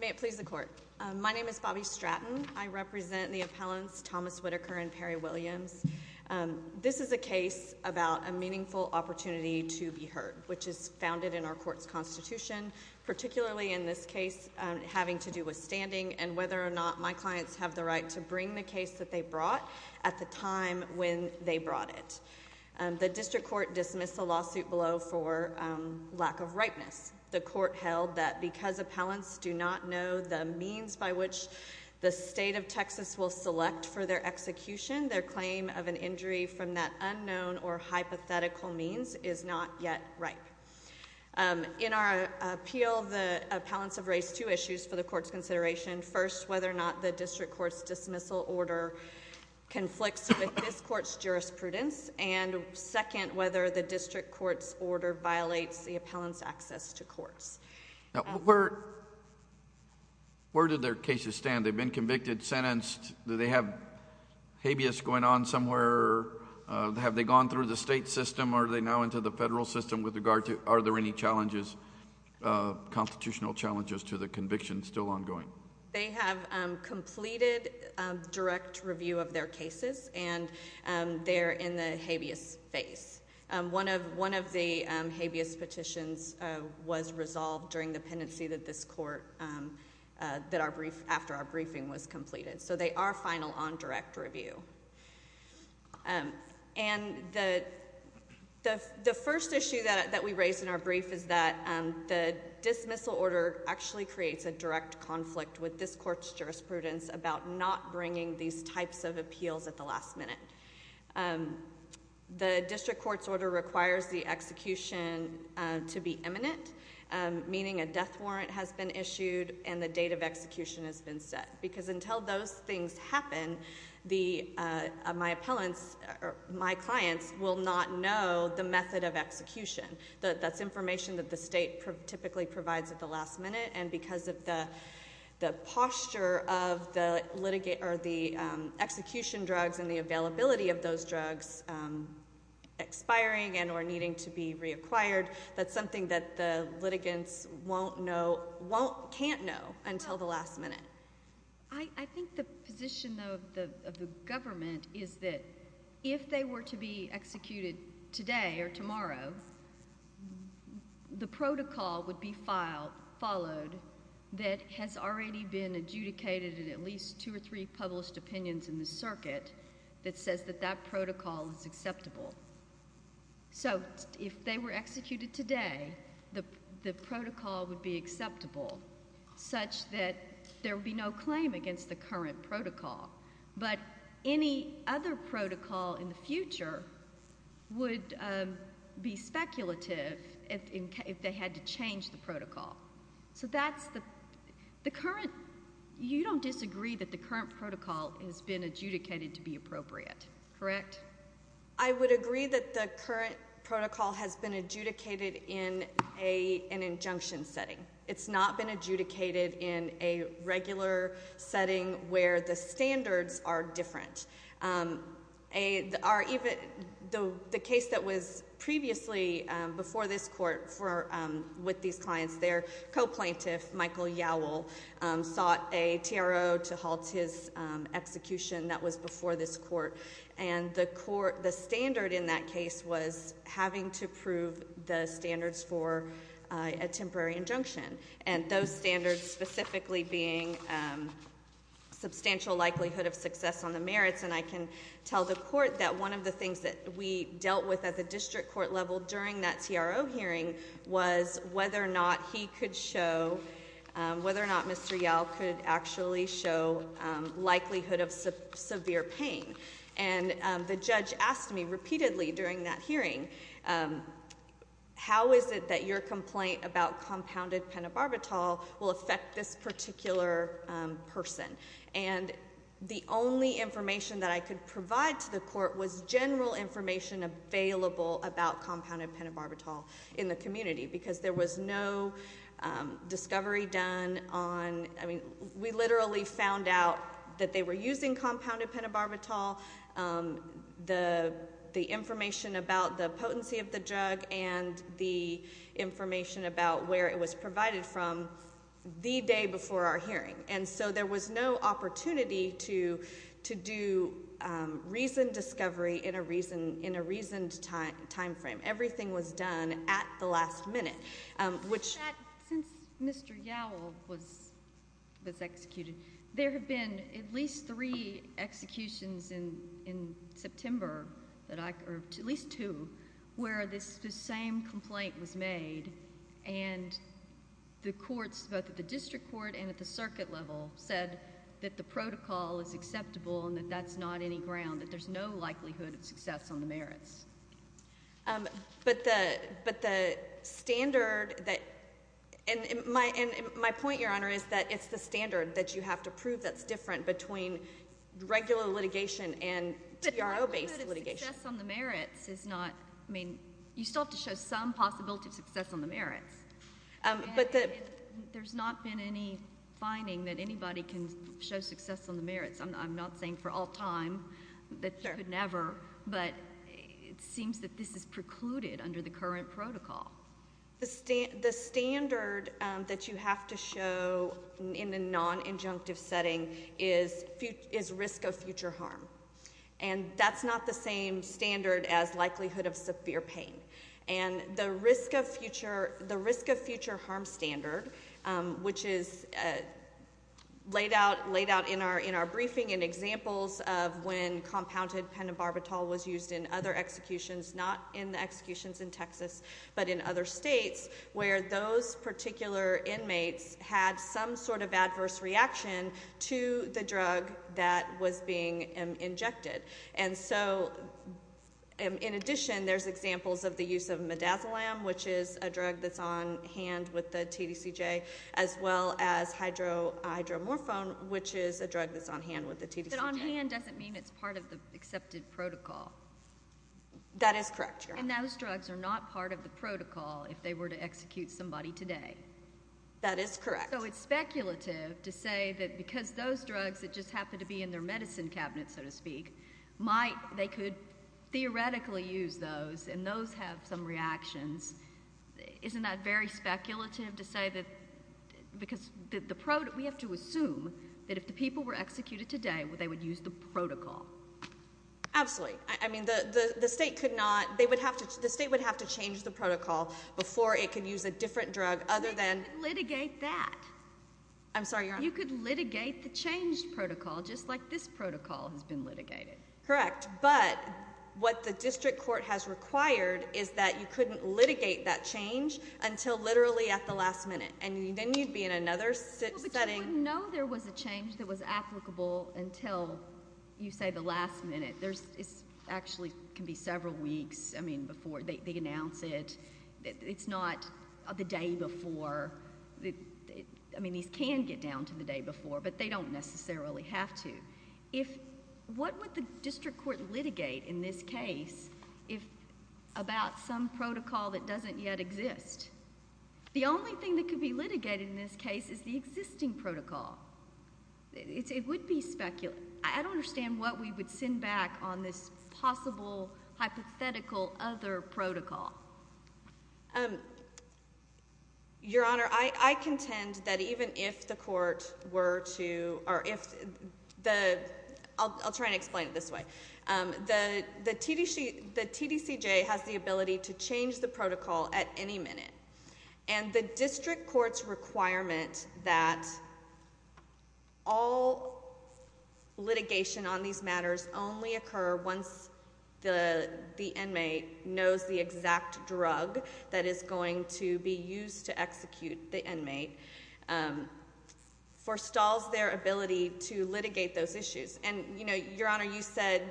May it please the Court. My name is Bobbi Stratton. I represent the appellants Thomas Whitaker and Perry Williams. This is a case about a meaningful opportunity to be heard, which is founded in our Court's Constitution, particularly in this case having to do with standing and whether or not my clients have the right to bring the case that they brought at the time when they brought it. The District Court dismissed the lawsuit below for lack of ripeness. The Court held that because appellants do not know the means by which the state of Texas will select for their execution, their claim of an injury from that unknown or hypothetical means is not yet ripe. In our appeal, the appellants have raised two issues for the Court's consideration. First, whether or not the District Court's dismissal order conflicts with this Court's jurisprudence, and second, whether the District Court's order the appellant's access to courts. Where did their cases stand? They've been convicted, sentenced. Do they have habeas going on somewhere? Have they gone through the state system? Are they now into the federal system? Are there any constitutional challenges to the conviction still ongoing? They have completed direct review of their cases, and they're in the habeas phase. One of the habeas petitions was resolved during the pendency that this Court, that our brief, after our briefing was completed. So they are final on direct review. And the first issue that we raised in our brief is that the dismissal order actually creates a direct conflict with this Court's jurisprudence about not bringing these types of appeals at the last minute. The District Court's order requires the execution to be imminent, meaning a death warrant has been issued and the date of execution has been set, because until those things happen, my clients will not know the method of execution. That's information that the state typically provides at the last minute, and because of the posture of the execution drugs and the availability of those drugs expiring and or needing to be reacquired, that's something that the litigants won't know, can't know until the last minute. I think the position of the government is that if they were to be executed today or tomorrow, the protocol would be followed that has already been adjudicated in at least two or three published opinions in the circuit that says that that protocol is acceptable. So if they were executed today, the protocol would be acceptable, such that there would be no claim against the current if they had to change the protocol. You don't disagree that the current protocol has been adjudicated to be appropriate, correct? I would agree that the current protocol has been adjudicated in an injunction setting. It's not been adjudicated in a regular setting where the standards are previously before this court with these clients. Their co-plaintiff, Michael Yowell, sought a TRO to halt his execution that was before this court, and the standard in that case was having to prove the standards for a temporary injunction, and those standards specifically being substantial likelihood of success on the merits, and I can tell the court that one of the things that we dealt with at the district court level during that TRO hearing was whether or not he could show, whether or not Mr. Yowell could actually show likelihood of severe pain, and the judge asked me repeatedly during that hearing, how is it that your complaint about compounded pentobarbital will affect this particular person? And the only information that I could provide to the court was general information available about compounded pentobarbital in the community because there was no discovery done on, I mean, we literally found out that they were using compounded pentobarbital, the information about the potency of the drug, and the information about where it was provided from the day before our hearing, and so there was no opportunity to do reasoned discovery in a reasoned time frame. Everything was done at the last minute, which... Since Mr. Yowell was executed, there have been at least three executions in September, or at least two, where this same complaint was made, and the courts, both at the district court and at the circuit level, said that the protocol is acceptable and that that's not any ground, that there's no likelihood of success on the merits. But the standard that... And my point, Your Honor, is that it's the standard that you have to prove that's different between regular litigation and TRO-based litigation. But the likelihood of success on the merits is not... I mean, you still have to show some possibility of success on the merits. There's not been any finding that anybody can show success on the merits. I'm not saying for all time that you could never, but it seems that this is precluded under the current protocol. The standard that you have to show in a non-injunctive setting is risk of future harm, and that's not the same standard as likelihood of severe pain. And the risk of future harm standard which is laid out in our briefing and examples of when compounded pentobarbital was used in other executions, not in the executions in Texas, but in other states, where those particular inmates had some sort of adverse reaction to the drug that was being injected. And so, in addition, there's examples of the use of midazolam, which is a drug that's on hand with TDCJ, as well as hydromorphone, which is a drug that's on hand with the TDCJ. But on hand doesn't mean it's part of the accepted protocol. That is correct. And those drugs are not part of the protocol if they were to execute somebody today. That is correct. So it's speculative to say that because those drugs that just happen to be in their medicine cabinet, so to speak, might... And those have some reactions. Isn't that very speculative to say that... Because we have to assume that if the people were executed today, they would use the protocol. Absolutely. I mean, the state would have to change the protocol before it could use a different drug other than... You could litigate that. I'm sorry? You could litigate the changed protocol just like this protocol has been litigated. Correct. But what the district court has required is that you couldn't litigate that change until literally at the last minute. And then you'd be in another setting... But you wouldn't know there was a change that was applicable until, you say, the last minute. It actually can be several weeks before they announce it. It's not the day before. I mean, these can get down to the day before, but they don't necessarily have to. If... What would the district court litigate in this case about some protocol that doesn't yet exist? The only thing that could be litigated in this case is the existing protocol. It would be speculative. I don't understand what we would send back on this possible hypothetical other protocol. Your Honor, I contend that even if the court were to... I'll try and explain it this way. The TDCJ has the ability to change the protocol at any minute. And the district court's requirement that all litigation on these matters only occur once the inmate knows the exact drug that is going to be used to execute the inmate forestalls their ability to litigate those issues. And, you know, Your Honor, you said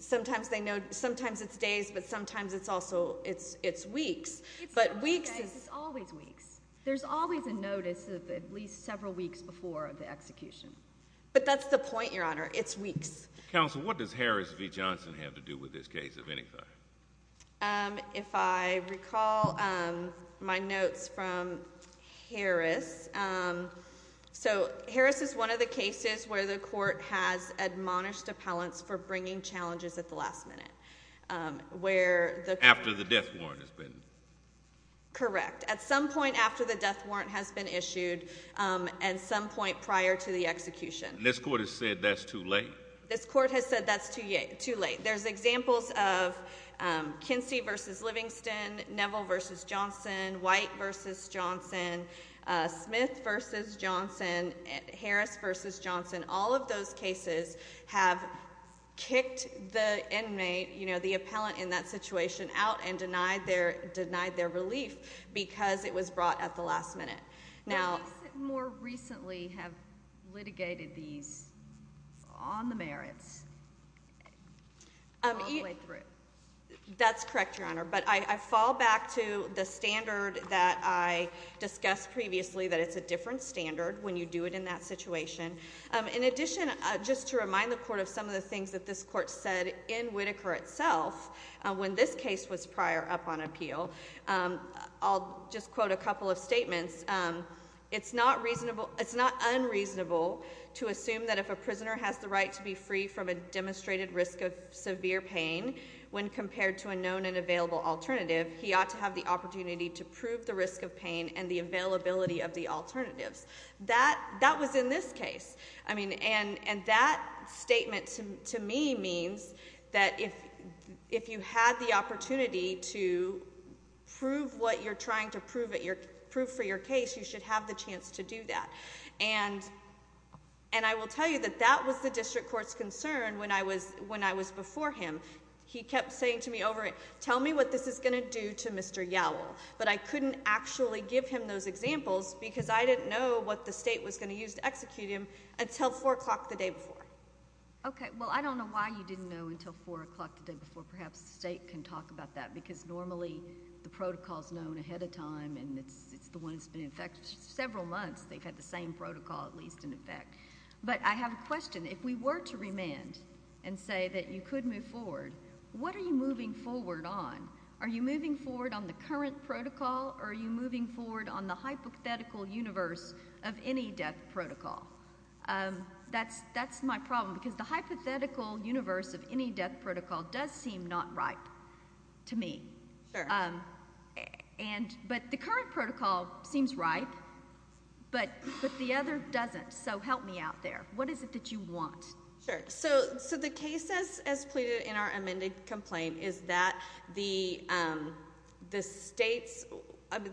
sometimes it's days, but sometimes it's also it's weeks. But weeks... It's always weeks. There's always a notice of at least several weeks before the execution. But that's the point, Your Honor. It's weeks. Counsel, what does Harris v. Johnson have to do with this case of any kind? If I recall my notes from Harris. So Harris is one of the cases where the court has admonished appellants for bringing challenges at the last minute. Where the... After the death warrant has been... Correct. At some point after the death warrant has been issued and some point prior to the execution. This court has said that's too late? This court has said that's too late. There's examples of Kinsey v. Livingston, Neville v. Johnson, White v. Johnson, Smith v. Johnson, Harris v. Johnson. All of those cases have kicked the inmate, you know, the appellant in that situation out and denied their relief because it was brought at the last minute. Now... They more recently have litigated these on the merits all the way through. That's correct, Your Honor. But I fall back to the standard that I discussed previously that it's a different standard when you do it in that court. It's not unreasonable to assume that if a prisoner has the right to be free from a demonstrated risk of severe pain when compared to a known and available alternative, he ought to have the opportunity to prove the risk of pain and the availability of the alternatives. That was in this case. And that statement to me means that if you had the opportunity to prove what you're trying to prove for your case, you should have the chance to do that. And I will tell you that that was the district court's concern when I was before him. He kept saying to me over it, tell me what this is going to do to Mr. Yowell. But I couldn't actually give him those examples because I didn't know what the state was going to use to execute him until four o'clock the day before. Okay. Well, I don't know why you didn't know until four o'clock the day before. Perhaps the state can talk about that because normally the protocol is known ahead of time and it's the one that's been in effect for several months. They've had the same protocol at least in effect. But I have a question. If we were to remand and say that you could move forward, what are you moving forward on? Are you moving forward on the current protocol or are you moving forward on the hypothetical universe of any death protocol? That's my problem because the hypothetical universe of any death protocol does seem not right to me. But the current protocol seems right, but the other doesn't. So help me out there. What is it that you want? Sure. So the case as pleaded in our amended complaint is that the state's,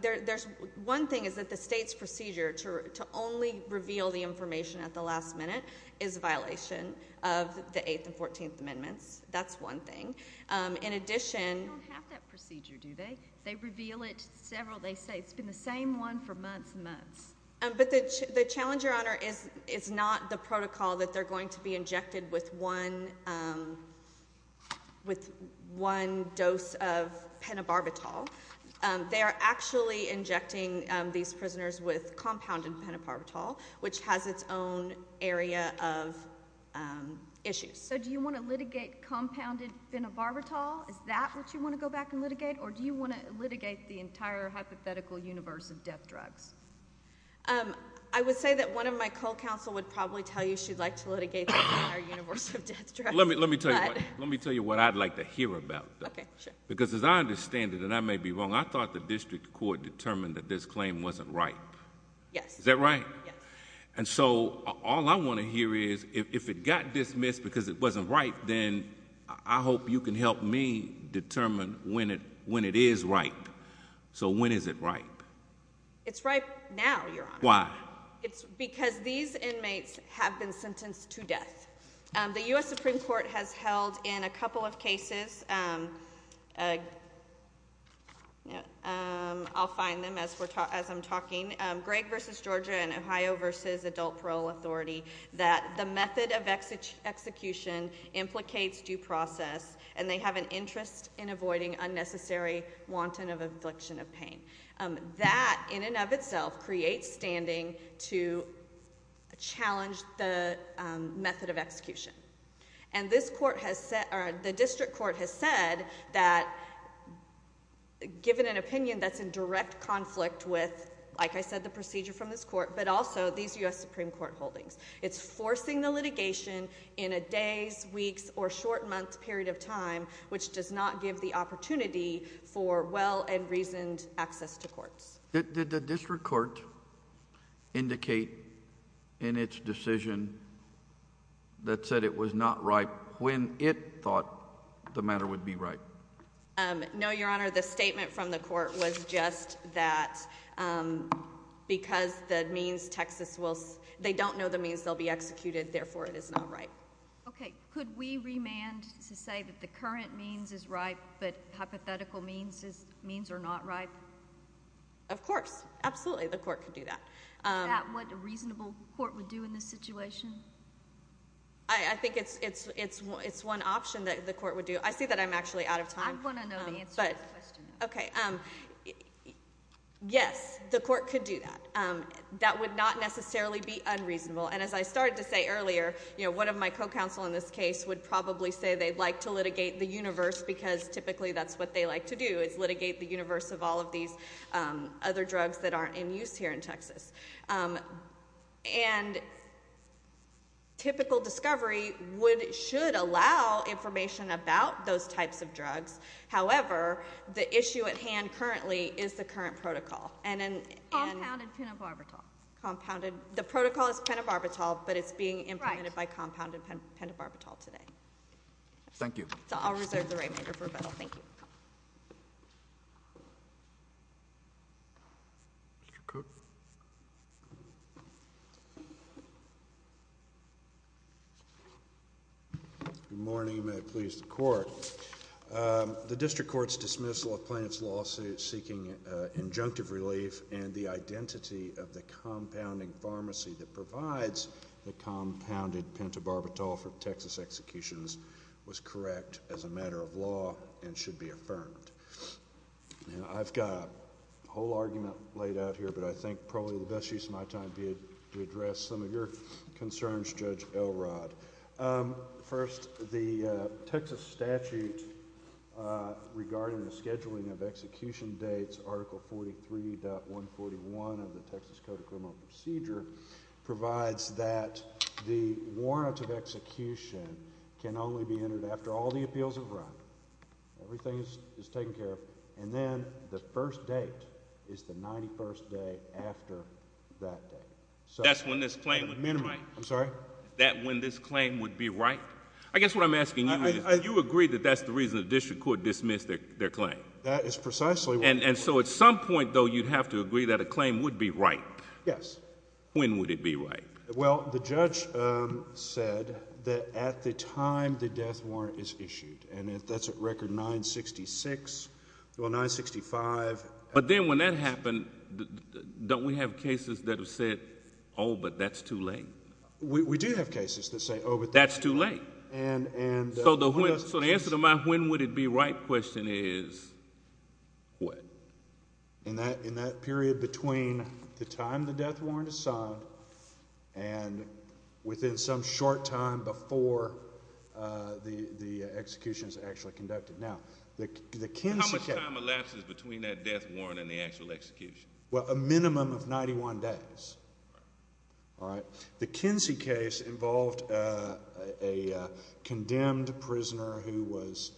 there's one thing is that the state's procedure to only reveal the information at the last minute is a violation of the 8th and 14th Amendments. That's one thing. In addition... They don't have that procedure, do they? They reveal it several, they say it's been the same one for months and months. But the challenge, Your Honor, is not the protocol that they're going to be injected with one, with one dose of penobarbital. They are actually injecting these prisoners with compounded penobarbital, which has its own area of issues. So do you want to litigate compounded penobarbital? Is that what you want to go back and litigate? Or do you want to litigate the entire hypothetical universe of death drugs? Um, I would say that one of my co-counsel would probably tell you she'd like to litigate the entire universe of death drugs. Let me, let me tell you, let me tell you what I'd like to hear about that. Okay, sure. Because as I understand it, and I may be wrong, I thought the district court determined that this claim wasn't ripe. Yes. Is that right? Yes. And so all I want to hear is if it got dismissed because it wasn't ripe, then I hope you can help me now, Your Honor. Why? It's because these inmates have been sentenced to death. The U.S. Supreme Court has held in a couple of cases. I'll find them as I'm talking. Greg versus Georgia and Ohio versus adult parole authority that the method of execution implicates due process and they have an interest in avoiding unnecessary wanton of affliction of pain. Um, that in and of itself creates standing to challenge the method of execution. And this court has set, or the district court has said that given an opinion that's in direct conflict with, like I said, the procedure from this court, but also these U.S. Supreme Court holdings, it's forcing the litigation in a days, weeks, or short month period of time, which does not give the opportunity for well and reasoned access to courts. Did the district court indicate in its decision that said it was not right when it thought the matter would be right? No, Your Honor. The statement from the court was just that because that means Texas will, they don't know the means they'll be executed, therefore it is not right. Okay. Could we remand to say that the current means is right, but hypothetical means are not right? Of course. Absolutely. The court could do that. Is that what a reasonable court would do in this situation? I think it's one option that the court would do. I see that I'm actually out of time. I want to know the answer to the question. Okay. Yes, the court could do that. That would not necessarily be unreasonable. And as I started to say earlier, one of my co-counsel in this case would probably say they'd like to litigate the universe because typically that's what they like to do, is litigate the universe of all of these other drugs that aren't in use here in Texas. And typical discovery should allow information about those types of drugs. However, the issue at hand currently is the current protocol. Compounded pentobarbital. The protocol is pentobarbital, but it's being implemented by compounded pentobarbital today. Thank you. I'll reserve the remainder for rebuttal. Thank you. Mr. Cook. Good morning. May it please the court. The district court's dismissal of plaintiff's lawsuit seeking injunctive relief and the identity of the compounding pharmacy that provides the compounded pentobarbital for Texas executions was correct as a matter of law and should be affirmed. I've got a whole argument laid out here, but I think probably the best use of my time would be to address some of your concerns, Judge Elrod. First, the Texas statute regarding the scheduling of execution dates, Article 43.141 of the Texas Code of Criminal Procedure, provides that the warrant of execution can only be entered after all the appeals have everything is taken care of, and then the first date is the 91st day after that day. That's when this claim would be right? I'm sorry? That when this claim would be right? I guess what I'm asking you is, do you agree that that's the reason the district court dismissed their claim? That is precisely. And so at some point, though, you'd have to agree that a claim would be right? Yes. When would it be right? Well, the judge said that at the time the death record 966, well, 965. But then when that happened, don't we have cases that have said, oh, but that's too late? We do have cases that say, oh, but that's too late. So the answer to my when would it be right question is, what? In that period between the time the death warrant is signed and within some short time before the execution is actually conducted. Now, how much time elapses between that death warrant and the actual execution? Well, a minimum of 91 days. All right. The Kinsey case involved a condemned prisoner who was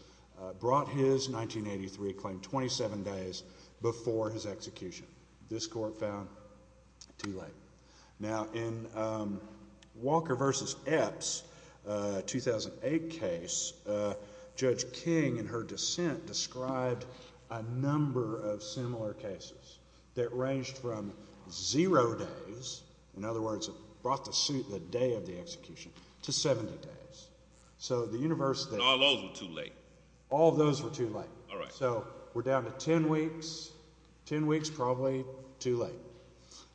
brought his 1983 claim 27 days before his execution. This court found too late. Now, in described a number of similar cases that ranged from zero days. In other words, it brought the suit the day of the execution to 70 days. So the university, all those were too late. All those were too late. All right. So we're down to 10 weeks, 10 weeks, probably too late.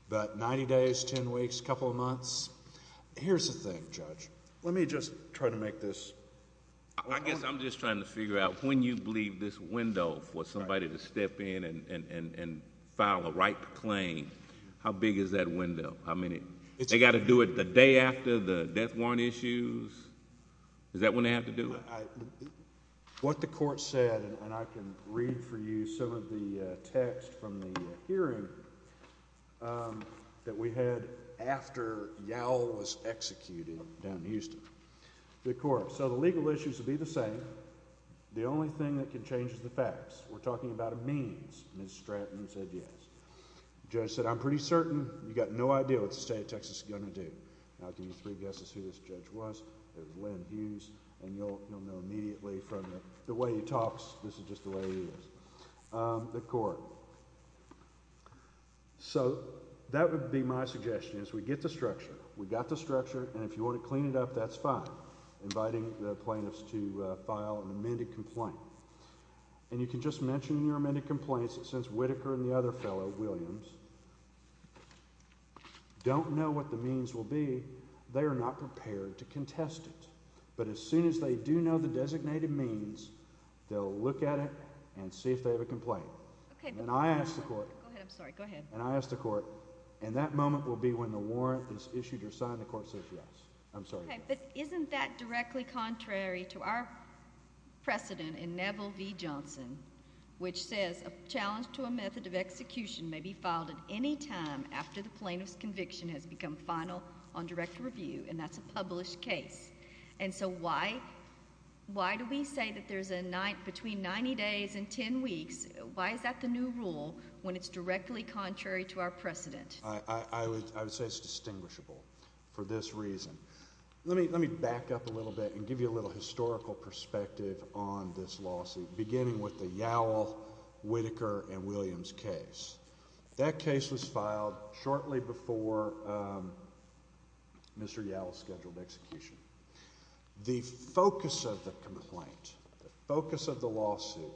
But 90 days, 10 weeks, a couple of months. Here's the thing, Judge. Let me just try to make this. I guess I'm just trying to figure out when you believe this window for somebody to step in and file a right claim. How big is that window? I mean, they got to do it the day after the death warrant issues. Is that when they have to do it? What the court said, and I can read for you some of the text from the hearing that we had after Yowell was executed down in Houston. The court said the legal issues will be the same. The only thing that could change is the facts. We're talking about a means. Ms. Stratton said yes. Judge said, I'm pretty certain you got no idea what the state of Texas is going to do. I'll give you three guesses who this judge was. It was Len Hughes, and you'll know immediately from the way he talks. This is just the way he is. The court. So that would be my suggestion is we get the structure. We got the structure. And if you file an amended complaint, and you can just mention your amended complaints, since Whitaker and the other fellow, Williams, don't know what the means will be, they are not prepared to contest it. But as soon as they do know the designated means, they'll look at it and see if they have a complaint. And I asked the court, and that moment will be when the warrant is issued or signed. The court said yes. I'm sorry. But isn't that directly contrary to our precedent in Neville v. Johnson, which says a challenge to a method of execution may be filed at any time after the plaintiff's conviction has become final on direct review, and that's a published case. And so why do we say that there's a night between 90 days and 10 weeks? Why is that new rule when it's directly contrary to our precedent? I would say it's distinguishable for this reason. Let me back up a little bit and give you a little historical perspective on this lawsuit, beginning with the Yowell, Whitaker, and Williams case. That case was filed shortly before Mr. Yowell's scheduled execution. The focus of the complaint, the focus of the complaint,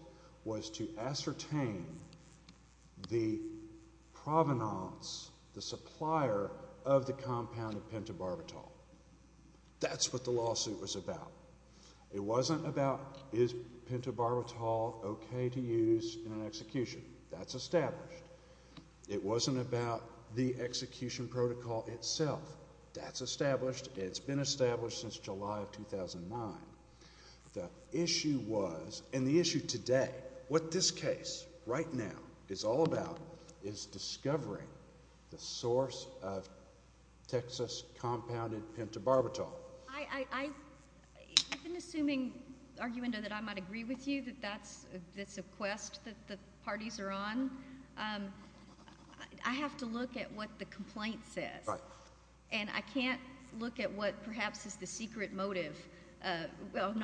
the provenance, the supplier of the compound of pentobarbital, that's what the lawsuit was about. It wasn't about is pentobarbital okay to use in an execution. That's established. It wasn't about the execution protocol itself. That's established. It's been established since July of 2010. It's all about is discovering the source of Texas compounded pentobarbital. I've been assuming, Argumendo, that I might agree with you that that's a quest that the parties are on. I have to look at what the complaint says, and I can't look at what perhaps is the secret but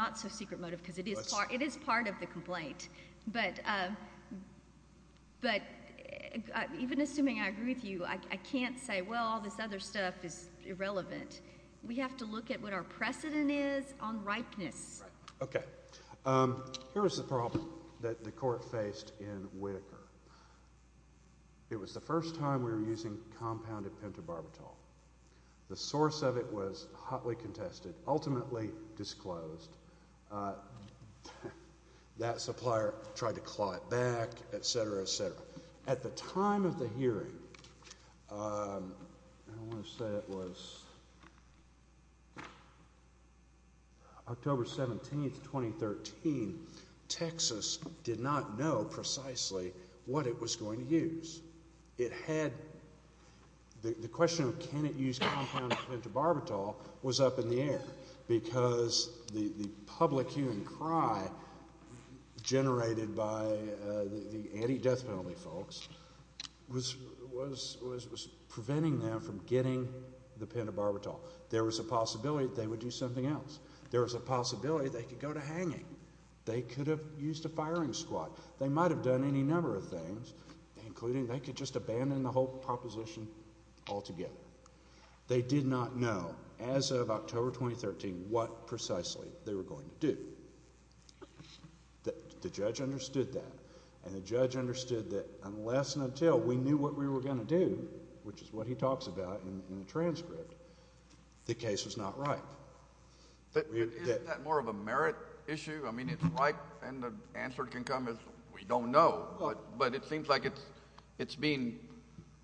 even assuming I agree with you, I can't say, well, all this other stuff is irrelevant. We have to look at what our precedent is on ripeness. Okay, here's the problem that the court faced in Whitaker. It was the first time we were using compounded pentobarbital. The source of it was hotly contested, ultimately disclosed. That supplier tried to claw it back, etc., etc. At the time of the hearing, I want to say it was October 17th, 2013, Texas did not know precisely what it was going to use. It had, the question of can it use compounded pentobarbital was up in the air because the anti-death penalty folks was preventing them from getting the pentobarbital. There was a possibility they would do something else. There was a possibility they could go to hanging. They could have used a firing squad. They might have done any number of things, including they could just abandon the whole proposition altogether. They did not know as of October 2013 what precisely they were going to do. The judge understood that and the judge understood that unless and until we knew what we were going to do, which is what he talks about in the transcript, the case was not ripe. Isn't that more of a merit issue? I mean, it's ripe and the answer can come as we don't know, but it seems like it's being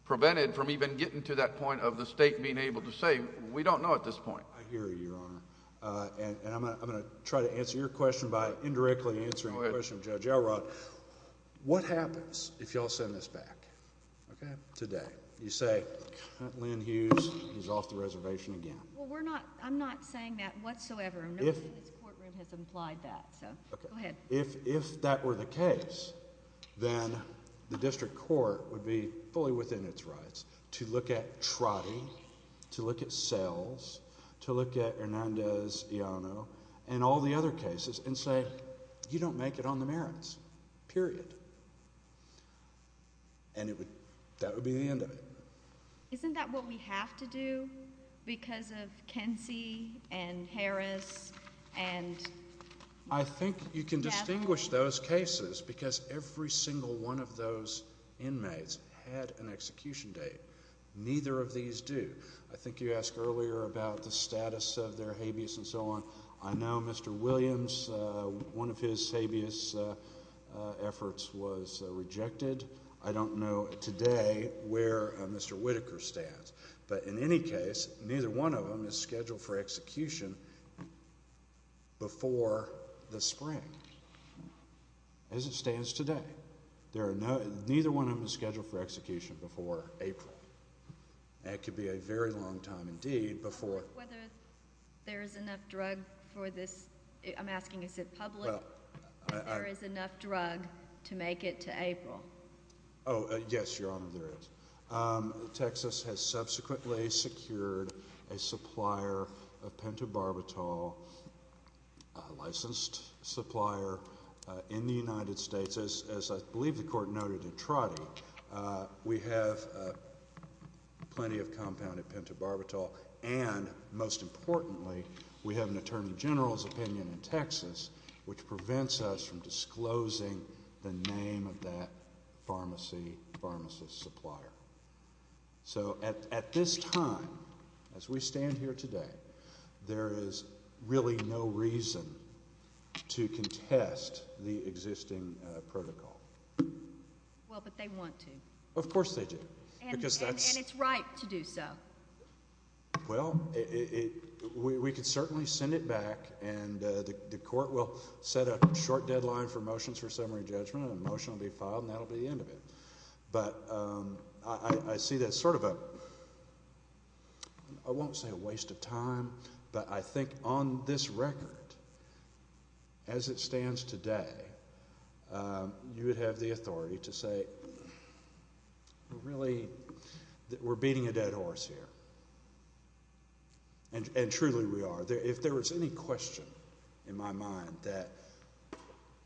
prevented from even getting to that point of the state being able to say we don't know at this point. I hear you, Your Honor. I'm going to try to answer your question by indirectly answering the question of Judge Elrod. What happens if y'all send this back today? You say, Lynn Hughes is off the reservation again. Well, I'm not saying that whatsoever. Nobody in this courtroom has implied that. Go ahead. If that were the case, then the district court would be fully within its rights to look at Hernandez-Iano and all the other cases and say you don't make it on the merits, period. And that would be the end of it. Isn't that what we have to do because of Kensey and Harris and? I think you can distinguish those cases because every single one of those inmates had an execution date. Neither of these do. I think you asked earlier about the status of their habeas and so on. I know Mr. Williams, one of his habeas efforts was rejected. I don't know today where Mr. Whitaker stands, but in any case, neither one of them is scheduled for execution before the spring as it stands today. Neither one of them is scheduled for execution before April. That could be a very long time indeed before. Whether there is enough drug for this, I'm asking is it public, there is enough drug to make it to April? Oh, yes, Your Honor, there is. Texas has subsequently secured a supplier of pentobarbital, a licensed supplier, in the United States. As I believe the Court noted in Trotty, we have plenty of compounded pentobarbital and most importantly, we have an Attorney General's opinion in Texas which prevents us from disclosing the name of that pharmacy, pharmacist supplier. So at this time, as we stand here today, there is really no reason to contest the existing protocol. Well, but they want to. Of course they do. And it's right to do so. Well, we could certainly send it back and the Court will set a short deadline for motions for summary judgment and a motion will be filed and that will be the end of it. But I see that as sort of a, I won't say a waste of time, but I think on this record, as it stands today, you would have the authority to say we're beating a dead horse here. And truly we are. If there was any question in my mind that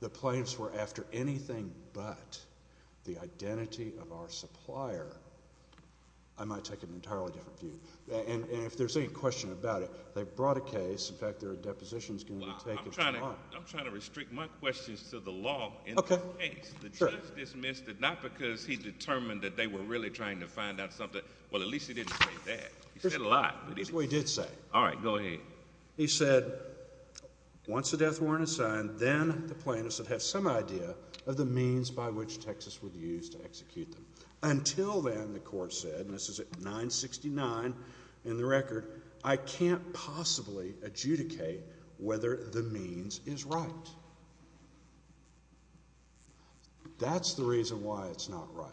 the plaintiffs were after anything but the identity of our supplier, I might take an entirely different view. And if there's any question about it, they brought a case. In fact, their deposition is going to take as long. I'm trying to restrict my questions to the law in the case. The judge dismissed it not because he determined that they were really trying to find out something. Well, at least he didn't say that. He said a lot. That's what he did say. All right, go ahead. He said, once the death warrant is by which Texas would use to execute them. Until then, the Court said, and this is at 969 in the record, I can't possibly adjudicate whether the means is right. That's the reason why it's not right.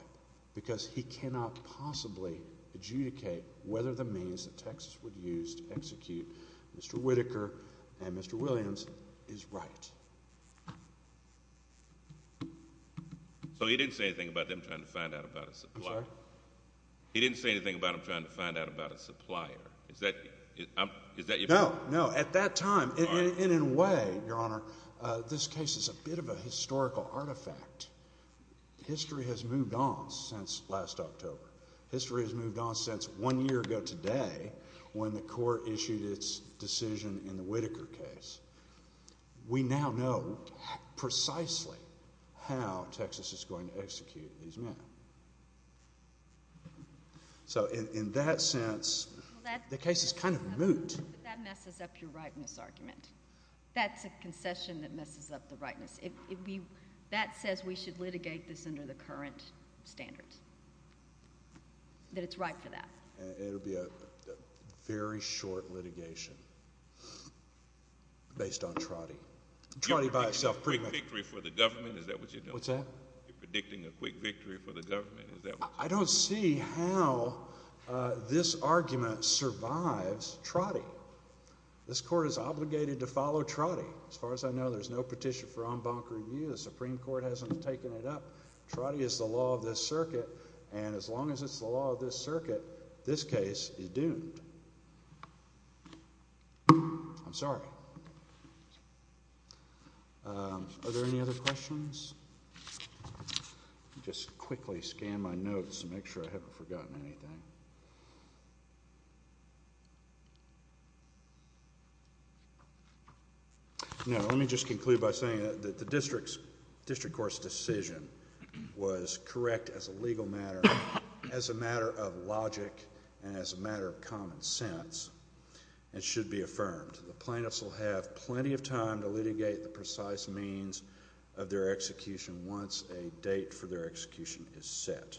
Because he cannot possibly adjudicate whether the means that Texas would use to execute Mr. Whitaker and Mr. Williams is right. So he didn't say anything about them trying to find out about a supplier? I'm sorry? He didn't say anything about them trying to find out about a supplier. Is that your point? No, no. At that time, and in a way, Your Honor, this case is a bit of a historical artifact. History has moved on since last October. History has moved on since one year ago today when the Court issued its decision in the Whitaker case. We now know precisely how Texas is going to execute these men. So in that sense, the case is kind of moot. That messes up your rightness argument. That's a concession that messes up the rightness. That says we should litigate this under the current standards. That it's right for that. It'll be a very short litigation based on Trotty. Trotty by itself. You're predicting a quick victory for the government? Is that what you're doing? What's that? You're predicting a quick victory for the government. Is that what you're doing? I don't see how this argument survives Trotty. This Court is obligated to follow Trotty. As far as I know, there's no petition for en banc review. The Supreme Court hasn't taken it up. Trotty is the law of this circuit. And as long as it's the law of this circuit, this case is doomed. I'm sorry. Are there any other questions? Just quickly scan my notes to make sure I haven't forgotten anything. No. Let me just conclude by saying that the District Court's decision was correct as a legal matter, as a matter of logic, and as a matter of common sense. It should be affirmed. The plaintiffs will have plenty of time to litigate the precise means of their execution once a date for their litigation is set.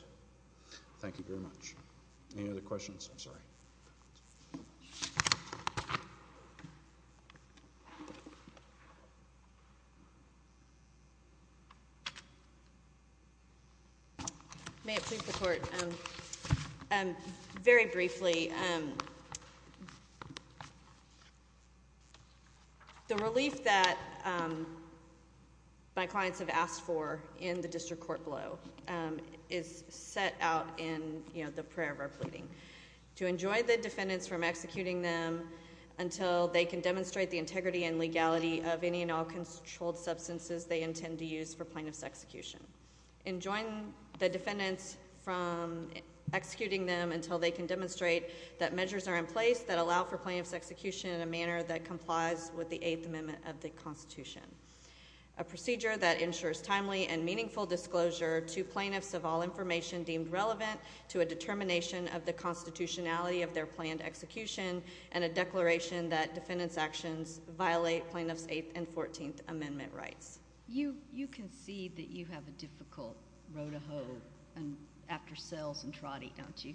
Any other questions? I'm sorry. May it please the Court. Very briefly, the relief that my clients have asked for in the District Court blow is set out in, you know, the prayer of our pleading. To enjoin the defendants from executing them until they can demonstrate the integrity and legality of any and all controlled substances they intend to use for plaintiff's execution. Enjoying the defendants from executing them until they can demonstrate that measures are in place that allow for plaintiff's execution in a manner that complies with the Eighth Amendment of the Constitution. A procedure that ensures timely and meaningful disclosure to plaintiffs of all information deemed relevant to a determination of the constitutionality of their planned execution, and a declaration that defendants' actions violate plaintiffs' Eighth and Fourteenth Amendment rights. You concede that you have a difficult road to hoe after Sells and Trotty, don't you?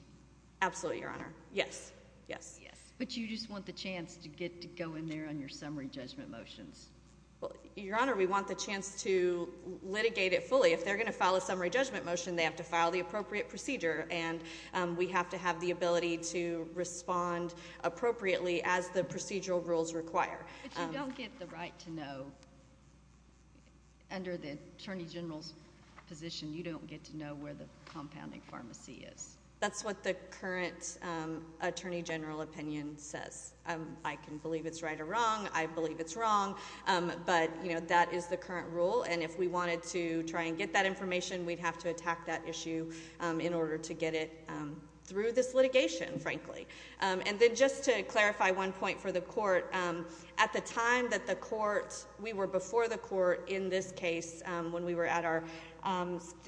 Absolutely, Your Honor. Yes. Yes. Yes. But you just want the chance to get to go in there on your summary judgment motions. Well, Your Honor, we want the chance to litigate it fully. If they're going to file a summary judgment motion, they have to file the appropriate procedure, and we have to have the ability to respond appropriately as the procedural rules require. But you don't get the right to know. Under the Attorney General's position, you don't get to know where the compounding pharmacy is. That's what the current Attorney General opinion says. I can believe it's right or wrong. I believe it's wrong. But, you know, that is the current rule. And if we wanted to try and get that information, we'd have to attack that issue in order to get it through this litigation, frankly. And then just to clarify one point for the Court, at the time that the Court, we were before the Court in this case when we were at our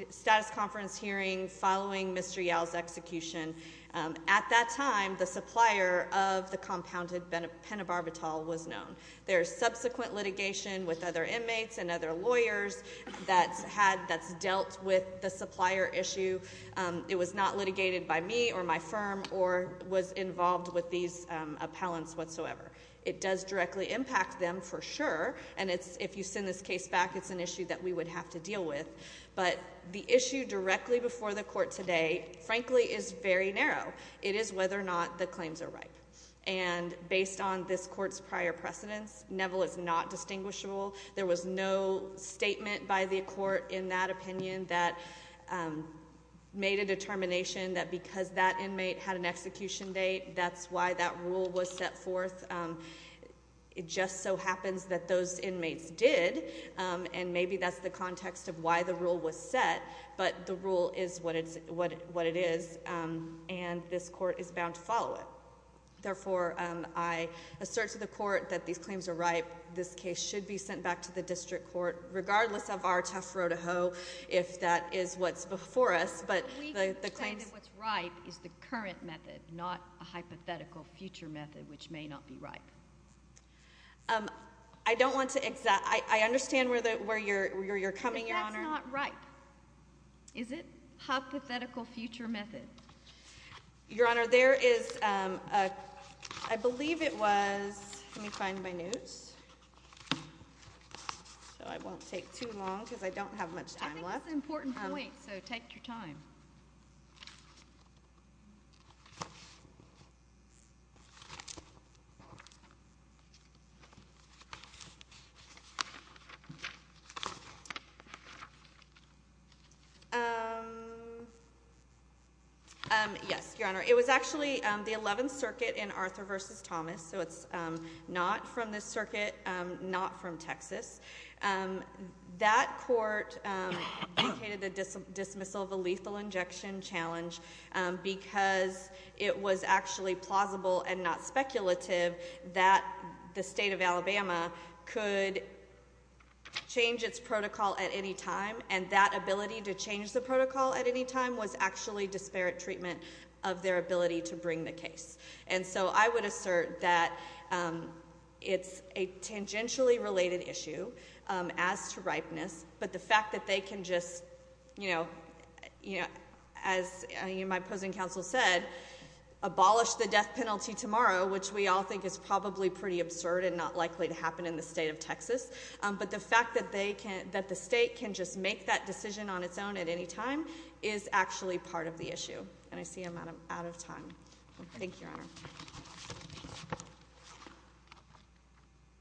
status conference hearing following Mr. Yow's execution. At that time, the supplier of the compounded pentobarbital was known. There's subsequent litigation with other inmates and other lawyers that's dealt with the supplier issue. It was not litigated by me or my firm or was involved with these appellants whatsoever. It does directly impact them for sure, and if you send this case back, it's an issue that we would have to deal with. But the issue directly before the Court today, frankly, is very narrow. It is whether or not the claims are ripe. And based on this Court's prior precedence, Neville is not distinguishable. There was no statement by the Court in that opinion that made a determination that because that inmate had an execution date, that's why that rule was set forth. It just so happens that those inmates did, and maybe that's the context of why the rule was followed. Therefore, I assert to the Court that these claims are ripe. This case should be sent back to the District Court, regardless of our tough road to hoe, if that is what's before us. But we can say that what's ripe is the current method, not a hypothetical future method, which may not be ripe. I understand where you're coming, Your Honor. It's not ripe, is it? Hypothetical future method. Your Honor, there is a, I believe it was, let me find my notes, so I won't take too long, because I don't have much time left. I think it's an important point, so take your time. Yes, Your Honor. It was actually the 11th Circuit in Arthur v. Thomas, so it's not from this circuit, not from Texas. That court indicated the dismissal of a lethal injection challenge, because it was actually plausible and not speculative that the State of Alabama could change its protocol at any time, and that ability to change the protocol at any time was actually disparate treatment of their ability to bring the case. And so I would assert that it's a tangentially related issue as to ripeness, but the fact that they can just, you know, as my opposing counsel said, abolish the death penalty tomorrow, which we all think is probably pretty absurd and not likely to happen in the State of Texas, but the fact that they can, that the State can just make that decision on its own at any time is actually part of the issue, and I see I'm out of time. Thank you, Your Honor.